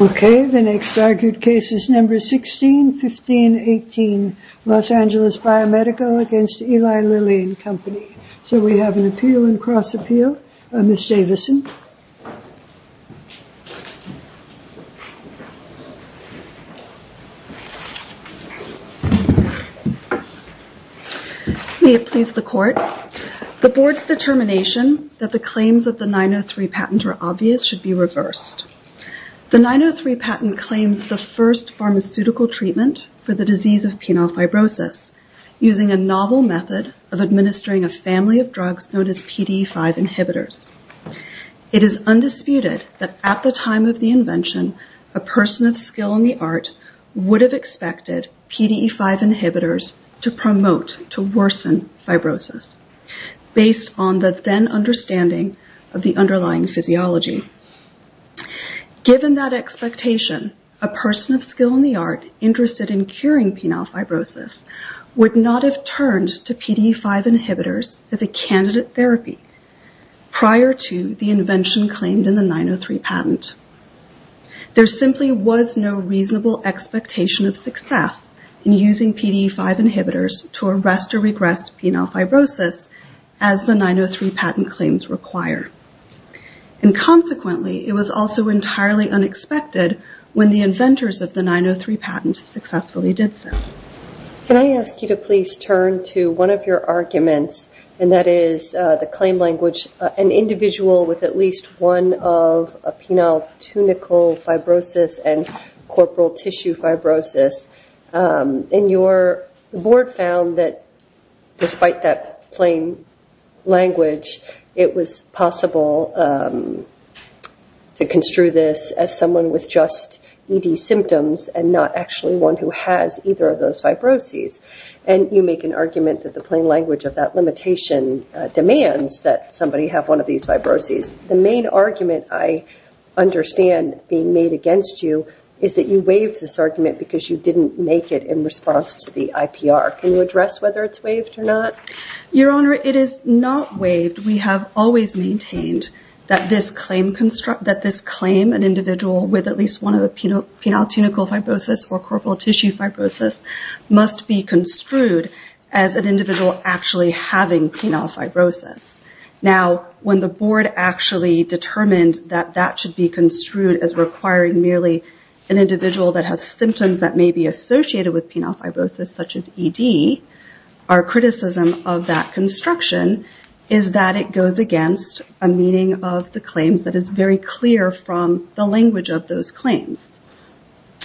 Okay, the next argued case is number 16, 15, 18, Los Angeles Biomedical v. Eli Lilly and Company. So we have an appeal and cross-appeal. Ms. Davison. May it please the Court. The Board's determination that the claims of the 903 patent are obvious should be reversed. The 903 patent claims the first pharmaceutical treatment for the disease of penile fibrosis using a novel method of administering a family of drugs known as PDE5 inhibitors. It is undisputed that at the time of the invention, a person of skill in the art would have expected PDE5 inhibitors to promote, to worsen fibrosis based on the then understanding of the underlying physiology. Given that expectation, a person of skill in the art interested in curing penile fibrosis would not have turned to PDE5 inhibitors as a candidate therapy prior to the invention claimed in the 903 patent. There simply was no reasonable expectation of success in using PDE5 inhibitors to arrest or regress penile fibrosis as the 903 patent claims require. And consequently, it was also entirely unexpected when the inventors of the 903 patent successfully did so. Can I ask you to please turn to one of your arguments and that is the claim language an individual with at least one of a penile tunicle fibrosis and corporal tissue fibrosis and your board found that despite that plain language, it was possible to construe this as someone with just ED symptoms and not actually one who has either of those fibrosis. And you make an argument that the plain language of that limitation demands that somebody have one of these fibrosis. The main argument I understand being made against you is that you waived this argument because you didn't make it in response to the IPR. Can you address whether it's waived or not? Your Honor, it is not waived. We have always maintained that this claim construct, that this claim an individual with at least one of the penile tunicle fibrosis or corporal tissue fibrosis must be construed as an individual actually having penile fibrosis. Now, when the board actually determined that that should be construed as requiring merely an individual that has symptoms that may be associated with penile fibrosis such as ED, our criticism of that construction is that it goes against a meeting of the claims that is very clear from the language of those claims.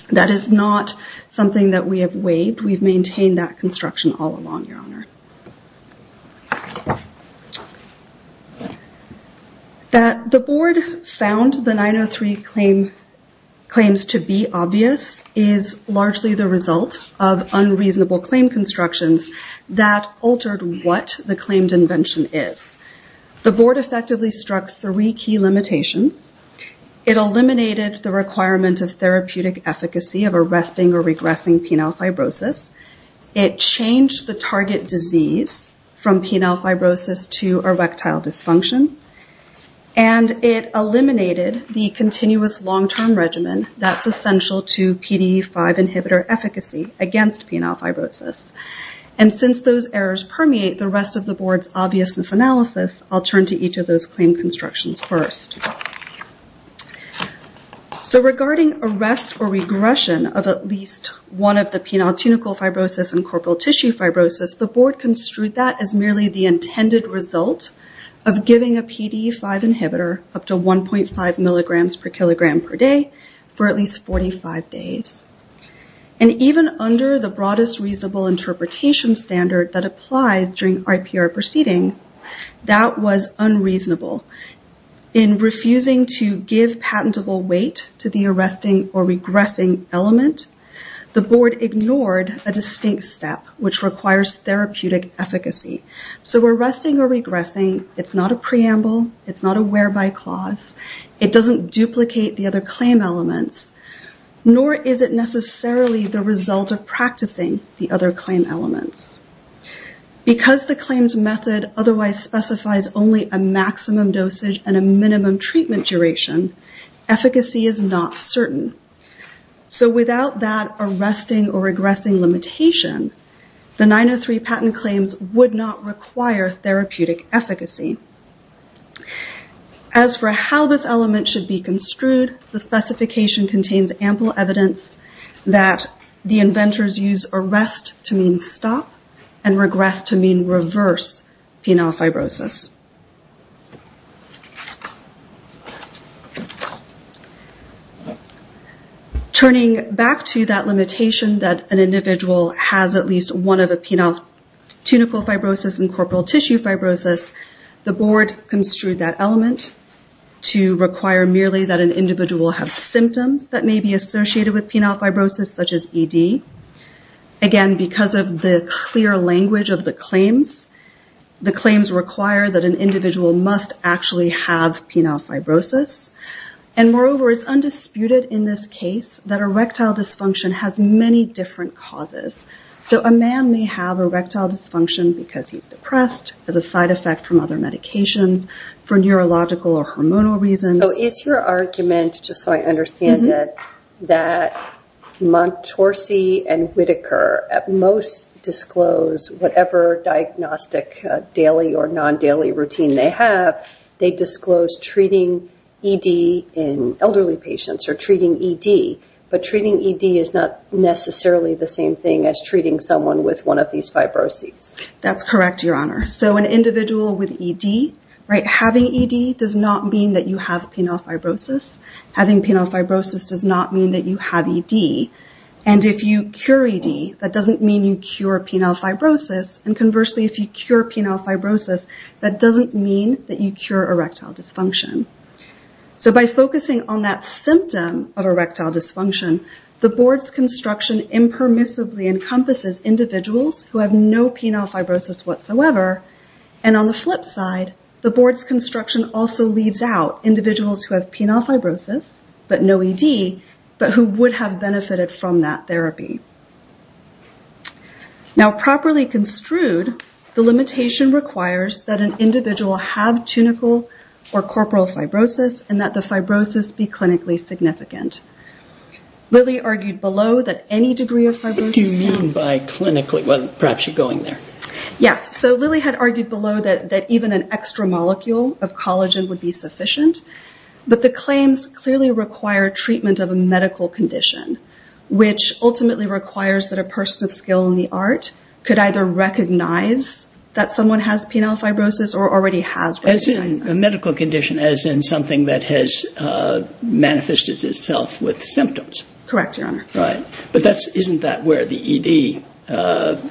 That is not something that we have waived. We've maintained that construction all along, Your Honor. The board found the 903 claims to be obvious is largely the result of unreasonable claim constructions that altered what the claimed invention is. The board effectively struck three key limitations. It eliminated the requirement of therapeutic efficacy of arresting or regressing penile fibrosis. It changed the target disease from penile fibrosis to erectile dysfunction. It eliminated the continuous long-term regimen that's essential to PDE5 inhibitor efficacy against penile fibrosis. Since those errors permeate the rest of the board's obviousness analysis, I'll turn to each of those claim constructions first. Regarding arrest or regression of at least one of the penile tunicle fibrosis and corporal tissue fibrosis, the board construed that as merely the intended result of giving a PDE5 inhibitor up to 1.5 milligrams per kilogram per day for at least 45 days. Even under the broadest reasonable interpretation standard that applies during IPR proceeding, that was unreasonable. In refusing to give patentable weight to the arresting or regressing element, the board ignored a distinct step which requires therapeutic efficacy. So arresting or regressing, it's not a preamble, it's not a whereby clause, it doesn't duplicate the other claim elements, nor is it necessarily the result of practicing the other claim elements. Because the claims method otherwise specifies only a maximum dosage and a minimum treatment duration, efficacy is not certain. So without that arresting or regressing limitation, the 903 patent claims would not require therapeutic efficacy. As for how this element should be construed, the specification contains ample evidence that the inventors use arrest to mean stop and regress to mean reverse penile fibrosis. Turning back to that limitation that an individual has at least one of a penile tunical fibrosis and corporal tissue fibrosis, the board construed that element to require merely that an individual have symptoms that may be associated with penile fibrosis such as ED. Again, because of the clear language of the claims, the claims require that an individual must actually have penile fibrosis. And moreover, it's undisputed in this case that erectile dysfunction has many different causes. So a man may have erectile dysfunction because he's depressed, as a side effect from other medications, for neurological or hormonal reasons. So is your argument, just so I understand it, that Montorsi and Whitaker at most disclose whatever diagnostic daily or non-daily routine they have, they disclose treating ED in elderly patients or treating ED, but treating ED is not necessarily the same thing as treating someone with one of these fibrosis. That's correct, Your Honor. So an individual with ED, right, having ED does not mean that you have penile fibrosis. Having penile fibrosis does not mean that you have ED. And if you cure ED, that doesn't mean you cure penile fibrosis. And conversely, if you cure penile fibrosis, that doesn't mean that you cure erectile dysfunction. So by focusing on that symptom of erectile dysfunction, the board's construction impermissibly encompasses individuals who have no penile fibrosis whatsoever. And on the flip side, the board's construction also leaves out individuals who have penile fibrosis, but no ED, but who would have benefited from that therapy. Now, properly construed, the limitation requires that an individual have tunical or corporal fibrosis and that the fibrosis be clinically significant. Lily argued below that any degree of fibrosis... Do you mean by clinically? Well, perhaps you're going there. Yes. So Lily had argued below that even an extra molecule of collagen would be sufficient. But the claims clearly require treatment of a medical condition, which ultimately requires that a person of skill in the art could either recognize that someone has penile fibrosis or already has penile fibrosis. As in a medical condition, as in something that has manifested itself with symptoms. Correct, Your Honor. Right. But isn't that where the ED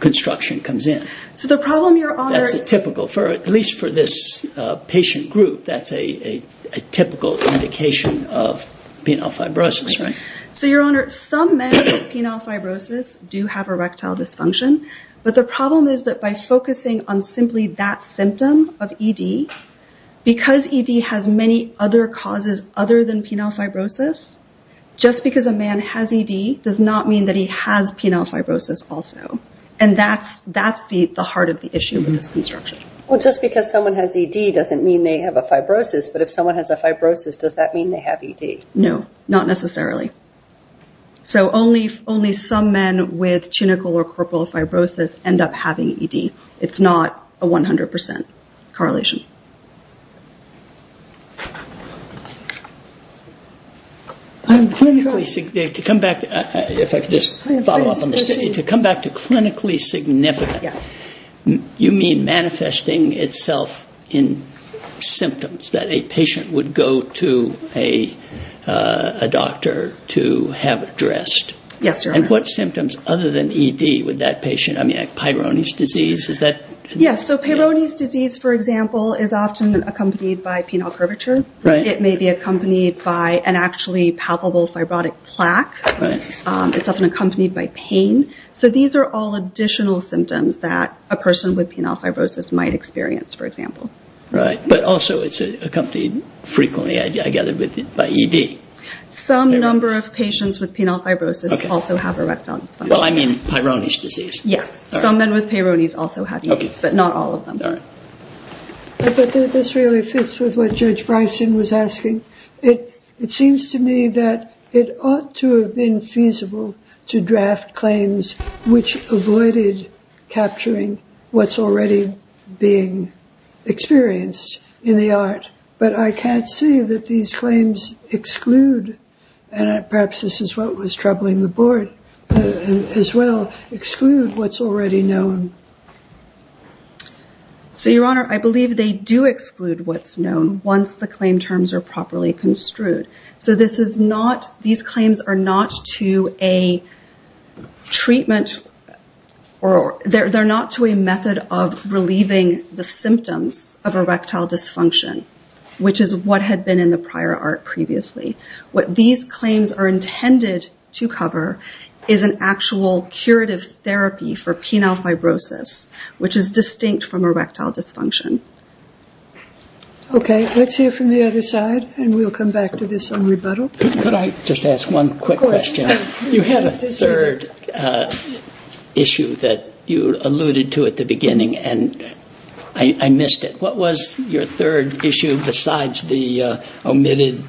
construction comes in? So the problem, Your Honor... That's a typical, at least for this patient group, that's a typical indication of penile fibrosis, right? So, Your Honor, some men with penile fibrosis do have erectile dysfunction. But the problem is that by focusing on simply that symptom of ED, because ED has many other causes other than penile fibrosis, just because a man has ED does not mean that he has penile fibrosis also. And that's the heart of the issue with this construction. Well, just because someone has ED doesn't mean they have a fibrosis, but if someone has a fibrosis, does that mean they have ED? No, not necessarily. So only some men with cunical or corporal fibrosis end up having ED. It's not a 100% correlation. To come back to clinically significant, you mean manifesting itself in symptoms that a patient would go to a doctor to have addressed? Yes, Your Honor. And what symptoms other than ED would that patient have? Peyronie's disease, is that... Yes, so Peyronie's disease, for example, is often accompanied by penile curvature. Right. It may be accompanied by an actually palpable fibrotic plaque. Right. It's often accompanied by pain. So these are all additional symptoms that a person with penile fibrosis might experience, for example. Right, but also it's accompanied frequently, I gather, by ED. Some number of patients with penile fibrosis also have erectile dysfunction. Well, I mean Peyronie's disease. Yes, some men with Peyronie's also have ED, but not all of them. I bet that this really fits with what Judge Bryson was asking. It seems to me that it ought to have been feasible to draft claims which avoided capturing what's already being experienced in the art, but I can't see that these claims exclude, and perhaps this is what was troubling the board as well, exclude what's already known. So, Your Honor, I believe they do exclude what's known once the claim terms are properly construed. So these claims are not to a treatment, or they're not to a method of relieving the symptoms of erectile dysfunction, which is what had been in the prior art previously. What these claims are intended to cover is an actual curative therapy for penile fibrosis, which is distinct from erectile dysfunction. Okay, let's hear from the other side, and we'll come back to this on rebuttal. Could I just ask one quick question? Of course. You had a third issue that you alluded to at the beginning, and I missed it. What was your third issue besides the omitted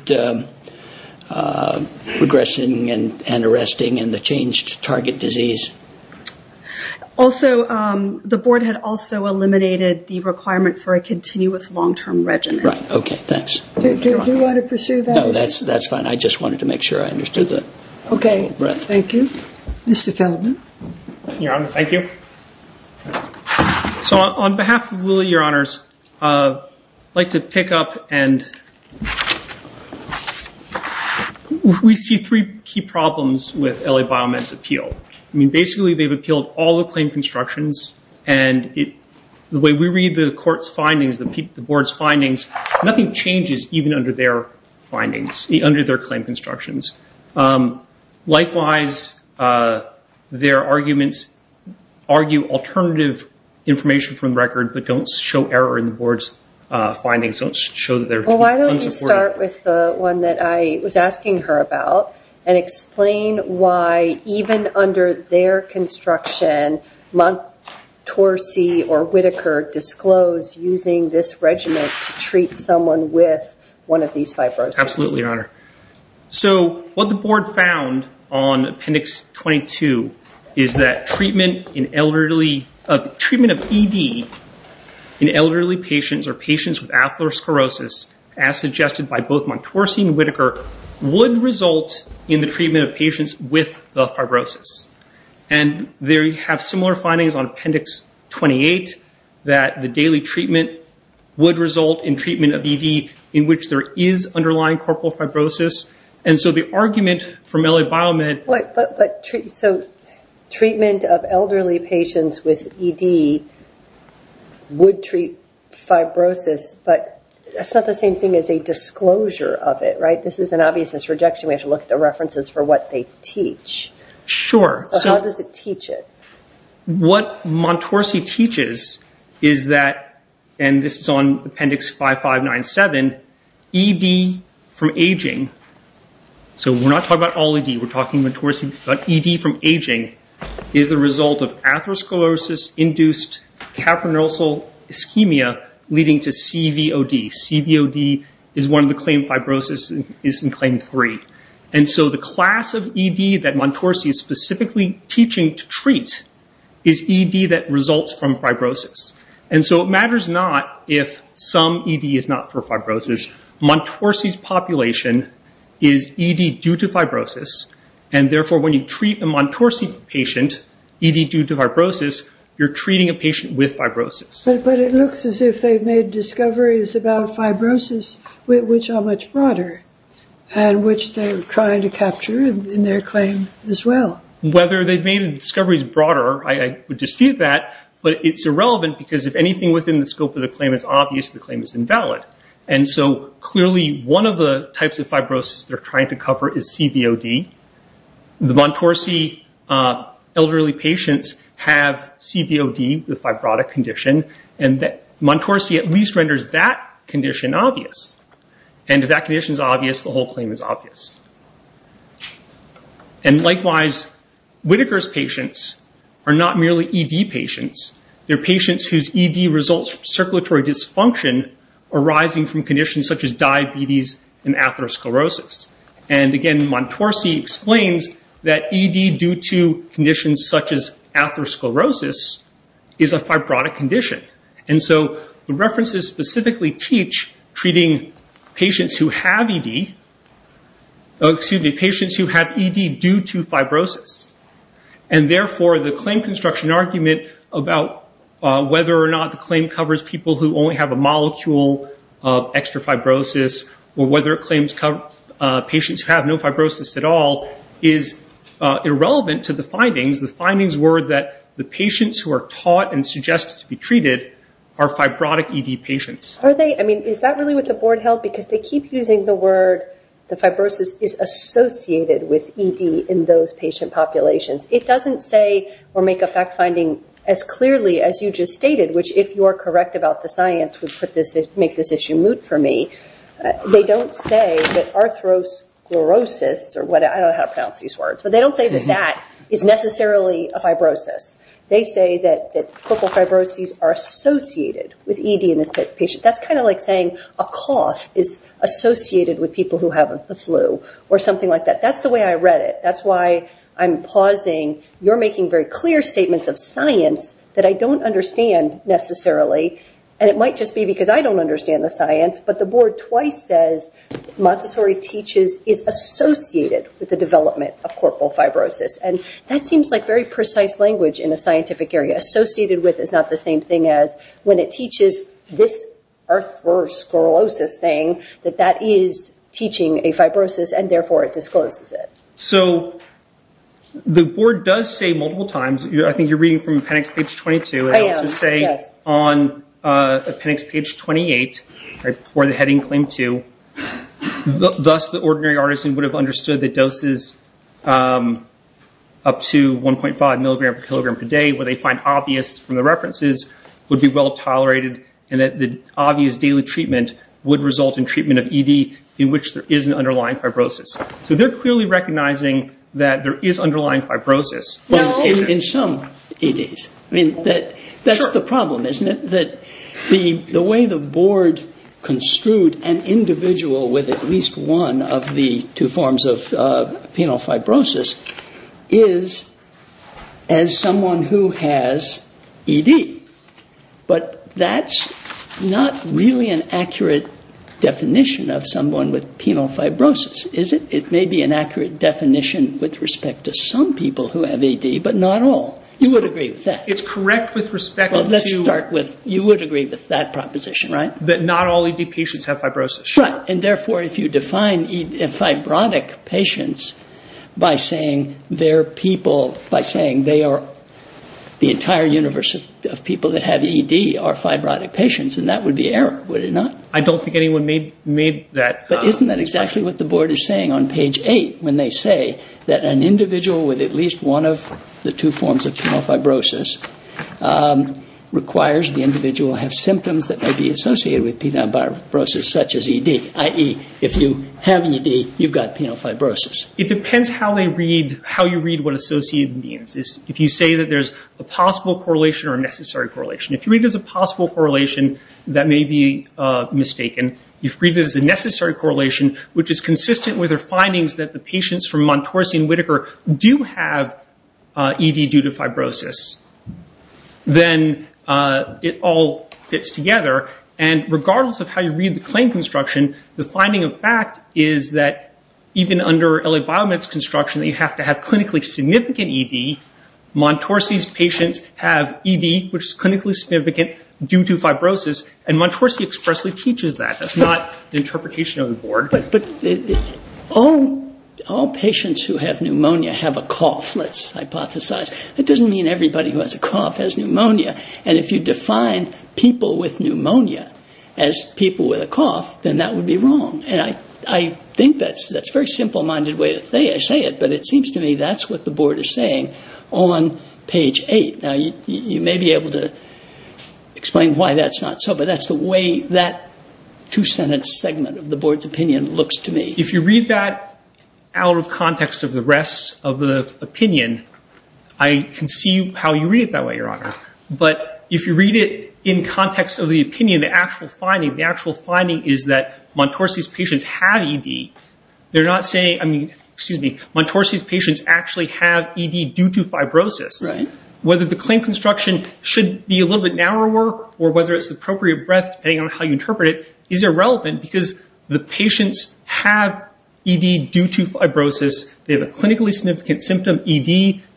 regressing and arresting and the changed target disease? Also, the board had also eliminated the requirement for a continuous long-term regimen. Right, okay, thanks. Do you want to pursue that? No, that's fine. I just wanted to make sure I understood that. Okay, thank you. Mr. Feldman? Your Honor, thank you. So on behalf of Lilly, Your Honors, I'd like to pick up and we see three key problems with LA Biomed's appeal. I mean, basically they've appealed all the claim constructions, and the way we read the court's findings, the board's findings, nothing changes even under their findings, under their claim constructions. Likewise, their arguments argue alternative information from the record, but don't show error in the board's findings. Don't show that they're unsupportive. Well, why don't you start with the one that I was asking her about and explain why even under their construction, Montt Torsey or Whitaker disclosed using this regimen to treat someone with one of these fibrosis. Absolutely, Your Honor. So what the board found on Appendix 22 is that treatment of ED in elderly patients or patients with atherosclerosis, as suggested by both Montt Torsey and Whitaker, would result in the treatment of patients with the fibrosis. And they have similar findings on Appendix 28, that the daily treatment would result in treatment of ED in which there is underlying corporeal fibrosis. And so the argument from L.A. Biomed… Wait, so treatment of elderly patients with ED would treat fibrosis, but that's not the same thing as a disclosure of it, right? This is an obviousness rejection. We have to look at the references for what they teach. Sure. So how does it teach it? What Montt Torsey teaches is that, and this is on Appendix 5597, ED from aging… So we're not talking about all ED, we're talking about ED from aging, is the result of atherosclerosis-induced capronosal ischemia leading to CVOD. CVOD is one of the claims fibrosis is in Claim 3. And so the class of ED that Montt Torsey is specifically teaching to treat is ED that results from fibrosis. And so it matters not if some ED is not for fibrosis. Montt Torsey's population is ED due to fibrosis, and therefore when you treat a Montt Torsey patient, ED due to fibrosis, you're treating a patient with fibrosis. But it looks as if they've made discoveries about fibrosis, which are much broader and which they're trying to capture in their claim as well. Whether they've made discoveries broader, I would dispute that, but it's irrelevant because if anything within the scope of the claim is obvious, the claim is invalid. And so clearly one of the types of fibrosis they're trying to cover is CVOD. The Montt Torsey elderly patients have CVOD, the fibrotic condition, and Montt Torsey at least renders that condition obvious. And if that condition is obvious, the whole claim is obvious. And likewise, Whitaker's patients are not merely ED patients. They're patients whose ED results from circulatory dysfunction arising from conditions such as diabetes and atherosclerosis. And again, Montt Torsey explains that ED due to conditions such as atherosclerosis is a fibrotic condition. And so the references specifically teach treating patients who have ED due to fibrosis. And therefore, the claim construction argument about whether or not the claim covers people who only have a molecule of extra fibrosis or whether it claims patients who have no fibrosis at all is irrelevant to the findings. The findings were that the patients who are taught and suggested to be treated are fibrotic ED patients. Are they? I mean, is that really what the board held? Because they keep using the word the fibrosis is associated with ED in those patient populations. It doesn't say or make a fact finding as clearly as you just stated, which if you are correct about the science would make this issue moot for me. They don't say that atherosclerosis, or I don't know how to pronounce these words, but they don't say that that is necessarily a fibrosis. They say that corporal fibrosis are associated with ED in this patient. That's kind of like saying a cough is associated with people who have the flu or something like that. That's the way I read it. That's why I'm pausing. You're making very clear statements of science that I don't understand necessarily, and it might just be because I don't understand the science, but the board twice says Montessori teaches is associated with the development of corporal fibrosis, and that seems like very precise language in a scientific area. Associated with is not the same thing as when it teaches this atherosclerosis thing, that that is teaching a fibrosis, and therefore it discloses it. So the board does say multiple times, I think you're reading from appendix page 22, I would also say on appendix page 28, right before the heading claim two, thus the ordinary artisan would have understood that doses up to 1.5 milligrams per kilogram per day, what they find obvious from the references, would be well tolerated, and that the obvious daily treatment would result in treatment of ED in which there is an underlying fibrosis. So they're clearly recognizing that there is underlying fibrosis in some EDs. I mean, that's the problem, isn't it? That the way the board construed an individual with at least one of the two forms of penile fibrosis is as someone who has ED. But that's not really an accurate definition of someone with penile fibrosis, is it? It may be an accurate definition with respect to some people who have ED, but not all. You would agree with that. It's correct with respect to... Well, let's start with, you would agree with that proposition, right? That not all ED patients have fibrosis. Right, and therefore if you define fibrotic patients by saying their people, by saying they are, the entire universe of people that have ED are fibrotic patients, then that would be error, would it not? I don't think anyone made that expression. But isn't that exactly what the board is saying on page eight, when they say that an individual with at least one of the two forms of penile fibrosis requires the individual have symptoms that may be associated with penile fibrosis such as ED, i.e., if you have ED, you've got penile fibrosis. It depends how you read what associated means. If you say that there's a possible correlation or a necessary correlation. If you read it as a possible correlation, that may be mistaken. If you read it as a necessary correlation, which is consistent with the findings that the patients from Montorsy and Whitaker do have ED due to fibrosis, then it all fits together. And regardless of how you read the claim construction, the finding of fact is that even under LA Biomed's construction, that you have to have clinically significant ED. Montorsy's patients have ED, which is clinically significant, due to fibrosis, and Montorsy expressly teaches that. That's not the interpretation of the board. But all patients who have pneumonia have a cough, let's hypothesize. That doesn't mean everybody who has a cough has pneumonia. And if you define people with pneumonia as people with a cough, then that would be wrong. And I think that's a very simple-minded way to say it, but it seems to me that's what the board is saying on page eight. Now, you may be able to explain why that's not so, but that's the way that two-sentence segment of the board's opinion looks to me. If you read that out of context of the rest of the opinion, I can see how you read it that way, Your Honor. But if you read it in context of the opinion, the actual finding, the actual finding is that Montorsy's patients have ED. They're not saying, I mean, excuse me, Montorsy's patients actually have ED due to fibrosis. Whether the claim construction should be a little bit narrower or whether it's the appropriate breadth, depending on how you interpret it, is irrelevant because the patients have ED due to fibrosis. They have a clinically significant symptom, ED.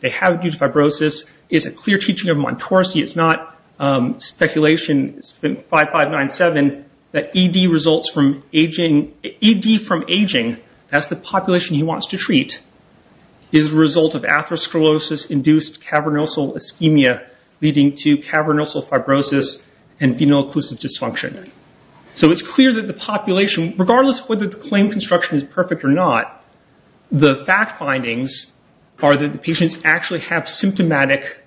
They have it due to fibrosis. It's a clear teaching of Montorsy. It's not speculation. It's been 5597 that ED results from aging. ED from aging, that's the population he wants to treat, is the result of atherosclerosis-induced cavernosal ischemia leading to cavernosal fibrosis and venal occlusive dysfunction. So it's clear that the population, regardless of whether the claim construction is perfect or not, the fact findings are that the patients actually have symptomatic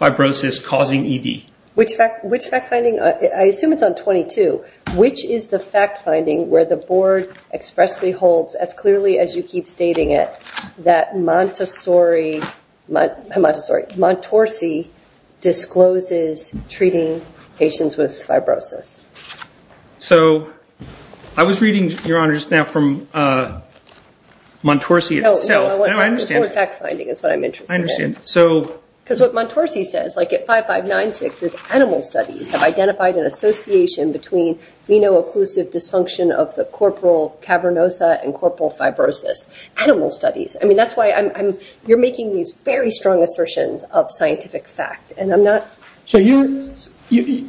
fibrosis causing ED. Which fact finding? I assume it's on 22. Which is the fact finding where the board expressly holds, as clearly as you keep stating it, that Montorsy discloses treating patients with fibrosis? So I was reading, Your Honor, just now from Montorsy itself. No, the board fact finding is what I'm interested in. I understand. Because what Montorsy says, like at 5596, is animal studies have identified an association between venal occlusive dysfunction of the corporal cavernosa and corporal fibrosis. Animal studies. I mean, that's why you're making these very strong assertions of scientific fact. So the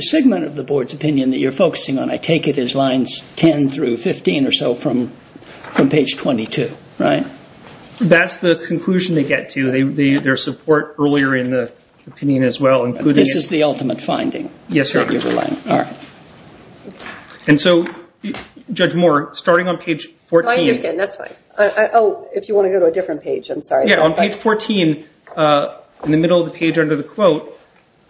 segment of the board's opinion that you're focusing on, I take it is lines 10 through 15 or so from page 22, right? That's the conclusion they get to. Their support earlier in the opinion as well. This is the ultimate finding? Yes, Your Honor. All right. And so, Judge Moore, starting on page 14. I understand. That's fine. Oh, if you want to go to a different page, I'm sorry. Yeah, on page 14, in the middle of the page under the quote,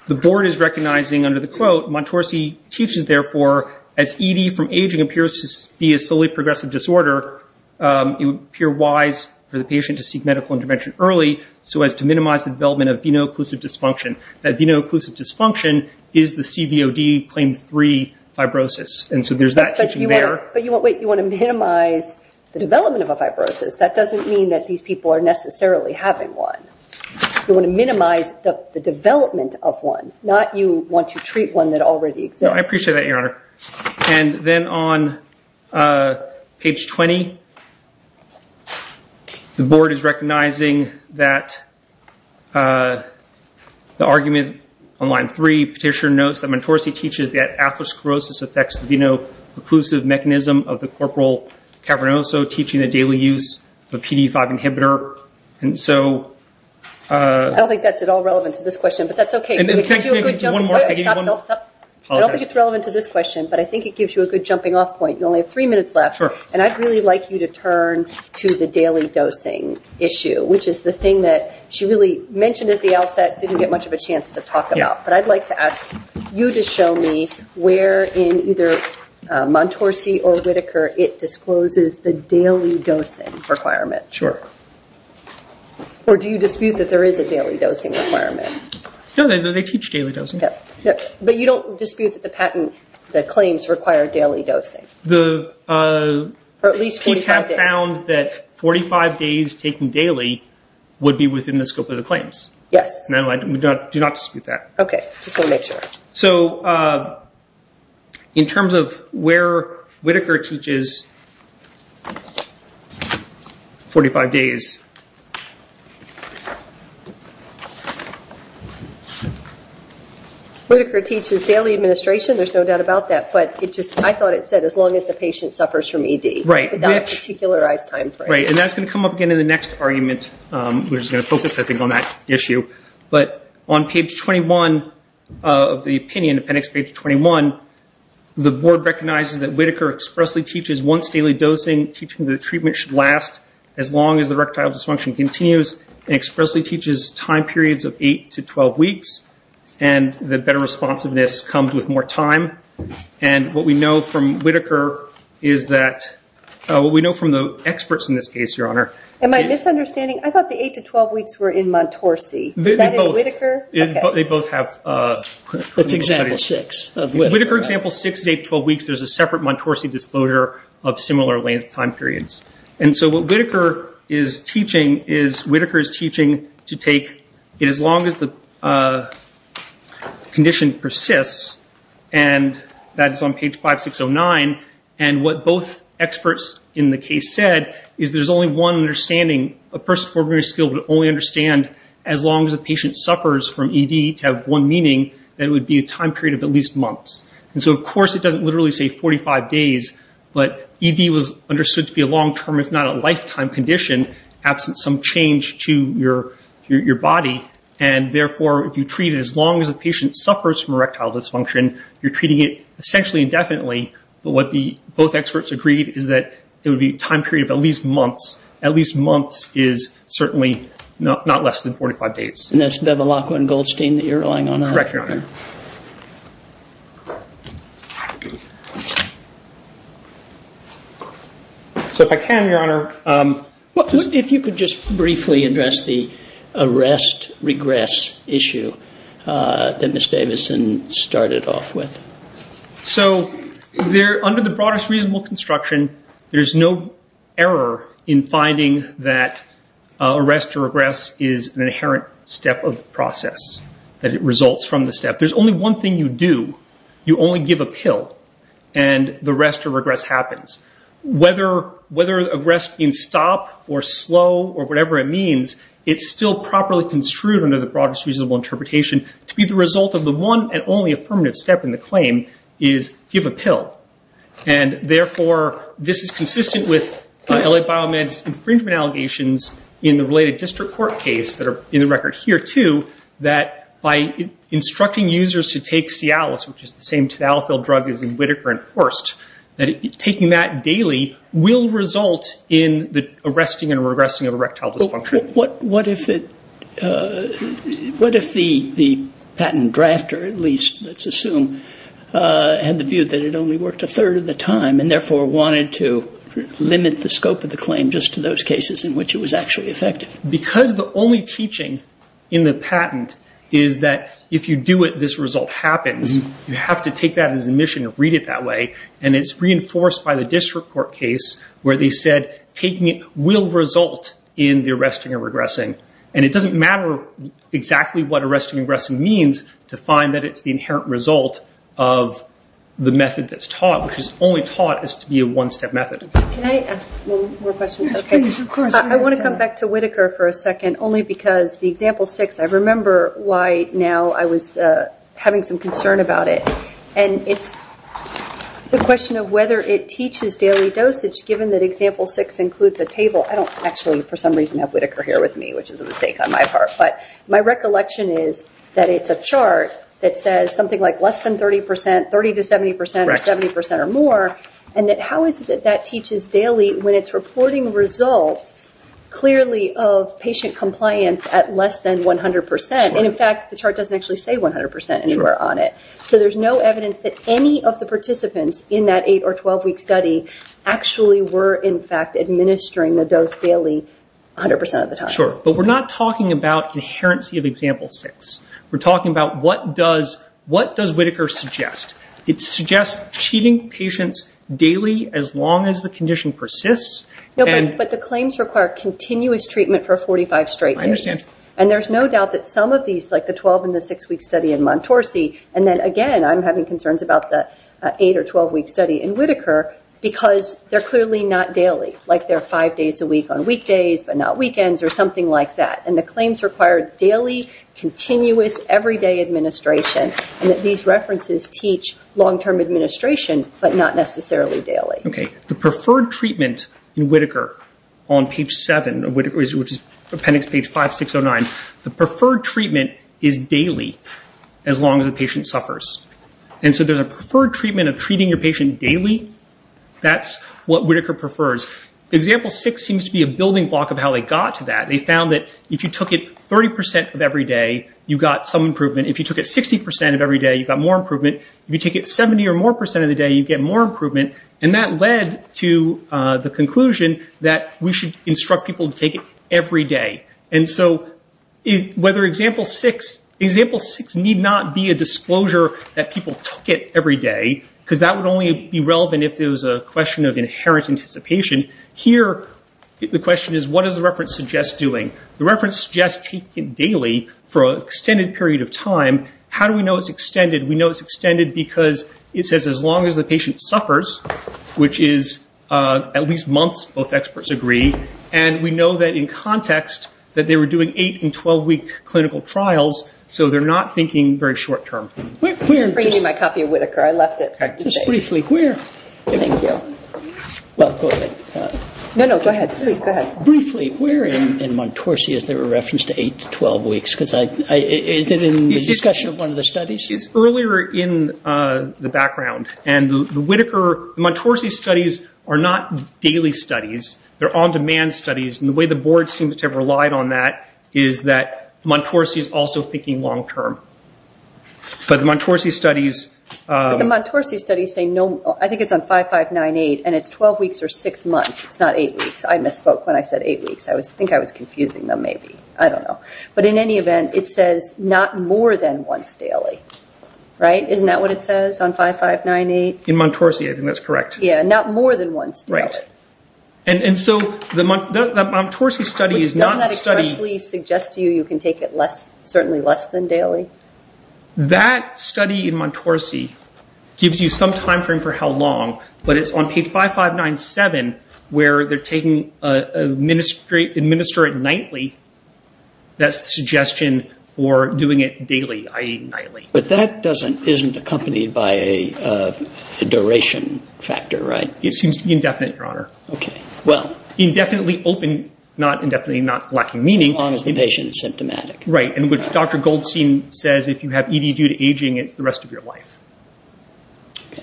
the board is recognizing under the quote, Montorsy teaches, therefore, as ED from aging appears to be a slowly progressive disorder, it would appear wise for the patient to seek medical intervention early so as to minimize the development of venal occlusive dysfunction. That venal occlusive dysfunction is the CVOD claim three fibrosis. And so there's that teaching there. But you want to minimize the development of a fibrosis. That doesn't mean that these people are necessarily having one. You want to minimize the development of one, not you want to treat one that already exists. No, I appreciate that, Your Honor. And then on page 20, the board is recognizing that the argument on line three, Petitioner notes that Montorsy teaches that atherosclerosis affects the venal occlusive mechanism of the corporal cavernoso, teaching the daily use of a PD-5 inhibitor. I don't think that's at all relevant to this question, but that's okay. I don't think it's relevant to this question, but I think it gives you a good jumping off point. You only have three minutes left, and I'd really like you to turn to the daily dosing issue, which is the thing that she really mentioned at the outset, didn't get much of a chance to talk about. But I'd like to ask you to show me where in either Montorsy or Whitaker it discloses the daily dosing requirement. Sure. Or do you dispute that there is a daily dosing requirement? No, they teach daily dosing. But you don't dispute that the patent claims require daily dosing? The PTAB found that 45 days taken daily would be within the scope of the claims. Yes. No, I do not dispute that. Okay, just wanted to make sure. So in terms of where Whitaker teaches 45 days... Whitaker teaches daily administration. There's no doubt about that. But I thought it said as long as the patient suffers from ED. Right. Without a particularized timeframe. Right, and that's going to come up again in the next argument. We're just going to focus, I think, on that issue. But on page 21 of the opinion, appendix page 21, the board recognizes that Whitaker expressly teaches once daily dosing, teaching that the treatment should last as long as the rectile dysfunction continues, and expressly teaches time periods of 8 to 12 weeks, and that better responsiveness comes with more time. And what we know from Whitaker is that... What we know from the experts in this case, Your Honor... Am I misunderstanding? I thought the 8 to 12 weeks were in Montorsi. Is that in Whitaker? They both have... That's example 6 of Whitaker. Whitaker example 6 is 8 to 12 weeks. There's a separate Montorsi disclosure of similar length time periods. And so what Whitaker is teaching is Whitaker is teaching to take it as long as the condition persists, and that is on page 5609. And what both experts in the case said is there's only one understanding. A person with a preliminary skill would only understand as long as a patient suffers from ED to have one meaning, that it would be a time period of at least months. And so, of course, it doesn't literally say 45 days, but ED was understood to be a long-term, if not a lifetime condition, absent some change to your body. And, therefore, if you treat it as long as a patient suffers from erectile dysfunction, and you're treating it essentially indefinitely, but what both experts agreed is that it would be a time period of at least months. At least months is certainly not less than 45 days. And that's Bevilacqua and Goldstein that you're relying on? Correct, Your Honor. So if I can, Your Honor... If you could just briefly address the arrest-regress issue that Ms. Davison started off with. So under the broadest reasonable construction, there's no error in finding that arrest or regress is an inherent step of the process, that it results from the step. There's only one thing you do. You only give a pill, and the arrest or regress happens. Whether arrest being stop or slow or whatever it means, it's still properly construed under the broadest reasonable interpretation to be the result of the one and only affirmative step in the claim is give a pill. And, therefore, this is consistent with L.A. Biomed's infringement allegations in the related district court case that are in the record here, too, that by instructing users to take Cialis, which is the same Tadalafil drug as in Whitaker and Horst, that taking that daily will result in the arresting and regressing of erectile dysfunction. What if the patent drafter, at least, let's assume, had the view that it only worked a third of the time and, therefore, wanted to limit the scope of the claim just to those cases in which it was actually effective? Because the only teaching in the patent is that if you do it, this result happens. You have to take that as admission and read it that way. And it's reinforced by the district court case where they said taking it will result in the arresting and regressing. And it doesn't matter exactly what arresting and regressing means to find that it's the inherent result of the method that's taught, which is only taught as to be a one-step method. Can I ask one more question? Please, of course. I want to come back to Whitaker for a second, only because the example six, I remember why now I was having some concern about it. And it's the question of whether it teaches daily dosage, given that example six includes a table. I don't actually, for some reason, have Whitaker here with me, which is a mistake on my part. But my recollection is that it's a chart that says something like less than 30 percent, 30 to 70 percent, or 70 percent or more, and that how is it that that teaches daily when it's reporting results clearly of patient compliance at less than 100 percent? And, in fact, the chart doesn't actually say 100 percent anywhere on it. So there's no evidence that any of the participants in that eight- or 12-week study actually were, in fact, administering the dose daily 100 percent of the time. Sure. But we're not talking about inherency of example six. We're talking about what does Whitaker suggest? It suggests treating patients daily as long as the condition persists. No, but the claims require continuous treatment for 45 straight days. I understand. And there's no doubt that some of these, like the 12- and the six-week study in Montorsi, and then, again, I'm having concerns about the eight- or 12-week study in Whitaker, because they're clearly not daily, like they're five days a week on weekdays, but not weekends, or something like that. And the claims require daily, continuous, everyday administration, and that these references teach long-term administration, but not necessarily daily. Okay. The preferred treatment in Whitaker on page seven, which is appendix page 5609, the preferred treatment is daily as long as the patient suffers. And so there's a preferred treatment of treating your patient daily. That's what Whitaker prefers. Example six seems to be a building block of how they got to that. They found that if you took it 30 percent of every day, you got some improvement. If you took it 60 percent of every day, you got more improvement. If you take it 70 or more percent of the day, you get more improvement. And that led to the conclusion that we should instruct people to take it every day. And so whether example six need not be a disclosure that people took it every day, because that would only be relevant if it was a question of inherent anticipation. Here, the question is, what does the reference suggest doing? The reference suggests taking it daily for an extended period of time. How do we know it's extended? We know it's extended because it says as long as the patient suffers, which is at least months, both experts agree. And we know that in context that they were doing eight- and 12-week clinical trials, so they're not thinking very short-term. I'm bringing you my copy of Whitaker. I left it. Just briefly, where- Thank you. No, no, go ahead. Please, go ahead. Briefly, where in Montorsy is there a reference to eight- to 12-weeks? Is it in the discussion of one of the studies? It's earlier in the background. And the Whitaker-Montorsy studies are not daily studies. They're on-demand studies. And the way the board seems to have relied on that is that Montorsy is also thinking long-term. But the Montorsy studies- But the Montorsy studies say no- I think it's on 5598, and it's 12 weeks or six months. It's not eight weeks. I misspoke when I said eight weeks. I think I was confusing them maybe. I don't know. But in any event, it says not more than once daily, right? Isn't that what it says on 5598? In Montorsy, I think that's correct. Yeah, not more than once daily. Right. And so the Montorsy study is not a study- Doesn't that expressly suggest to you you can take it certainly less than daily? That study in Montorsy gives you some time frame for how long, but it's on page 5597 where they're taking administrative nightly. That's the suggestion for doing it daily, i.e. nightly. But that isn't accompanied by a duration factor, right? It seems to be indefinite, Your Honor. Okay. Well- Indefinitely open, not indefinitely not lacking meaning- As long as the patient is symptomatic. Right, and what Dr. Goldstein says, if you have ED due to aging, it's the rest of your life. Okay.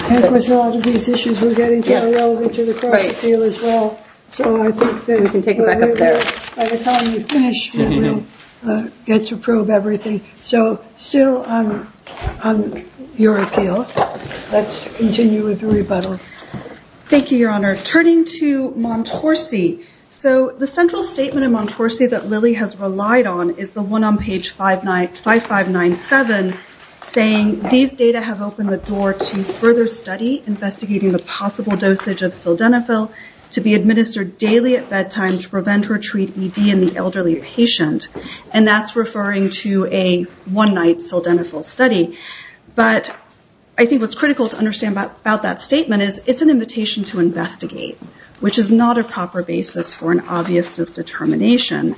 I think with a lot of these issues we're getting to are relevant to the cross-appeal as well. So I think that- We can take it back up there. By the time we finish, we'll get to probe everything. So still on your appeal, let's continue with the rebuttal. Thank you, Your Honor. Turning to Montorsy, so the central statement in Montorsy that Lilly has relied on is the one on page 5597 saying these data have opened the door to further study investigating the possible dosage of sildenafil to be administered daily at bedtime to prevent or treat ED in the elderly patient. And that's referring to a one-night sildenafil study. But I think what's critical to understand about that statement is it's an invitation to investigate, which is not a proper basis for an obviousness determination.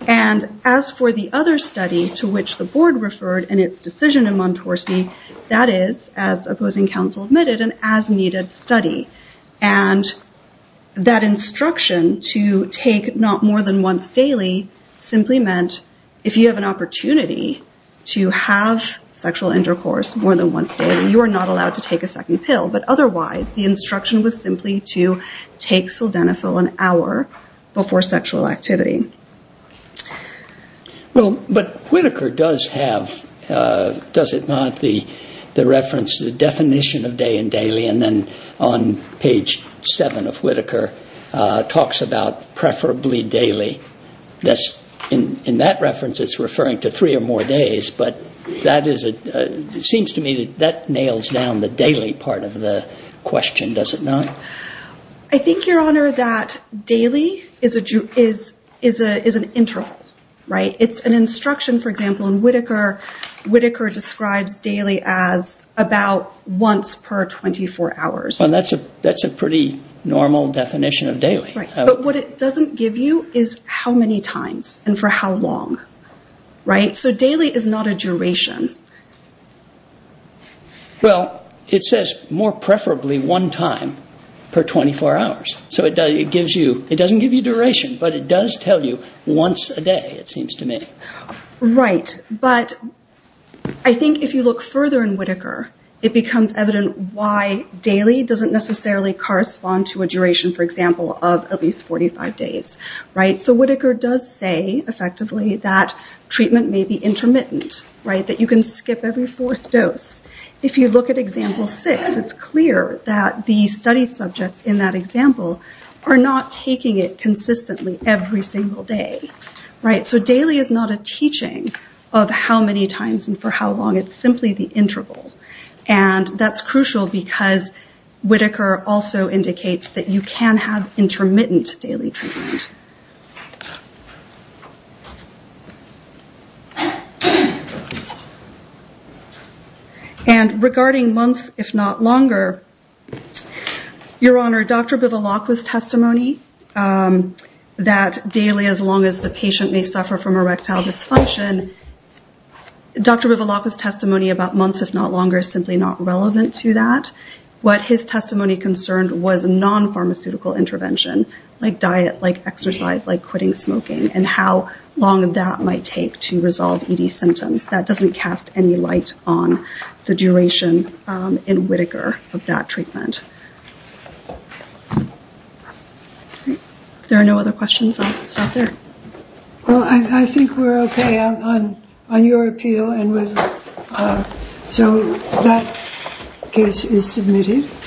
And as for the other study to which the board referred in its decision in Montorsy, that is, as opposing counsel admitted, an as-needed study. And that instruction to take not more than once daily simply meant, if you have an opportunity to have sexual intercourse more than once daily, you are not allowed to take a second pill. But otherwise, the instruction was simply to take sildenafil an hour before sexual activity. Well, but Whitaker does have, does it not, the reference, the definition of day and daily, and then on page 7 of Whitaker talks about preferably daily. In that reference it's referring to three or more days, but that is a, it seems to me that that nails down the daily part of the question, does it not? I think, Your Honor, that daily is an interval, right? It's an instruction. For example, in Whitaker, Whitaker describes daily as about once per 24 hours. And that's a pretty normal definition of daily. But what it doesn't give you is how many times and for how long, right? So daily is not a duration. Well, it says more preferably one time per 24 hours. So it gives you, it doesn't give you duration, but it does tell you once a day, it seems to me. Right. But I think if you look further in Whitaker, it becomes evident why daily doesn't necessarily correspond to a duration, for example, of at least 45 days, right? So Whitaker does say, effectively, that treatment may be intermittent, right? That you can skip every fourth dose. If you look at example six, it's clear that the study subjects in that example are not taking it consistently every single day. Right. So daily is not a teaching of how many times and for how long. It's simply the interval. And that's crucial because Whitaker also indicates that you can have intermittent daily treatment. And regarding months, if not longer, Your Honor, Dr. Bivalakwa's testimony that daily, as long as the patient may suffer from erectile dysfunction, Dr. Bivalakwa's testimony about months, if not longer, is simply not relevant to that. What his testimony concerned was non-pharmaceutical intervention, like diet, like exercise, like quitting smoking, and how long that might take to resolve ED symptoms. That doesn't cast any light on the duration in Whitaker of that treatment. If there are no other questions, I'll stop there. Well, I think we're okay on your appeal. So that case is submitted.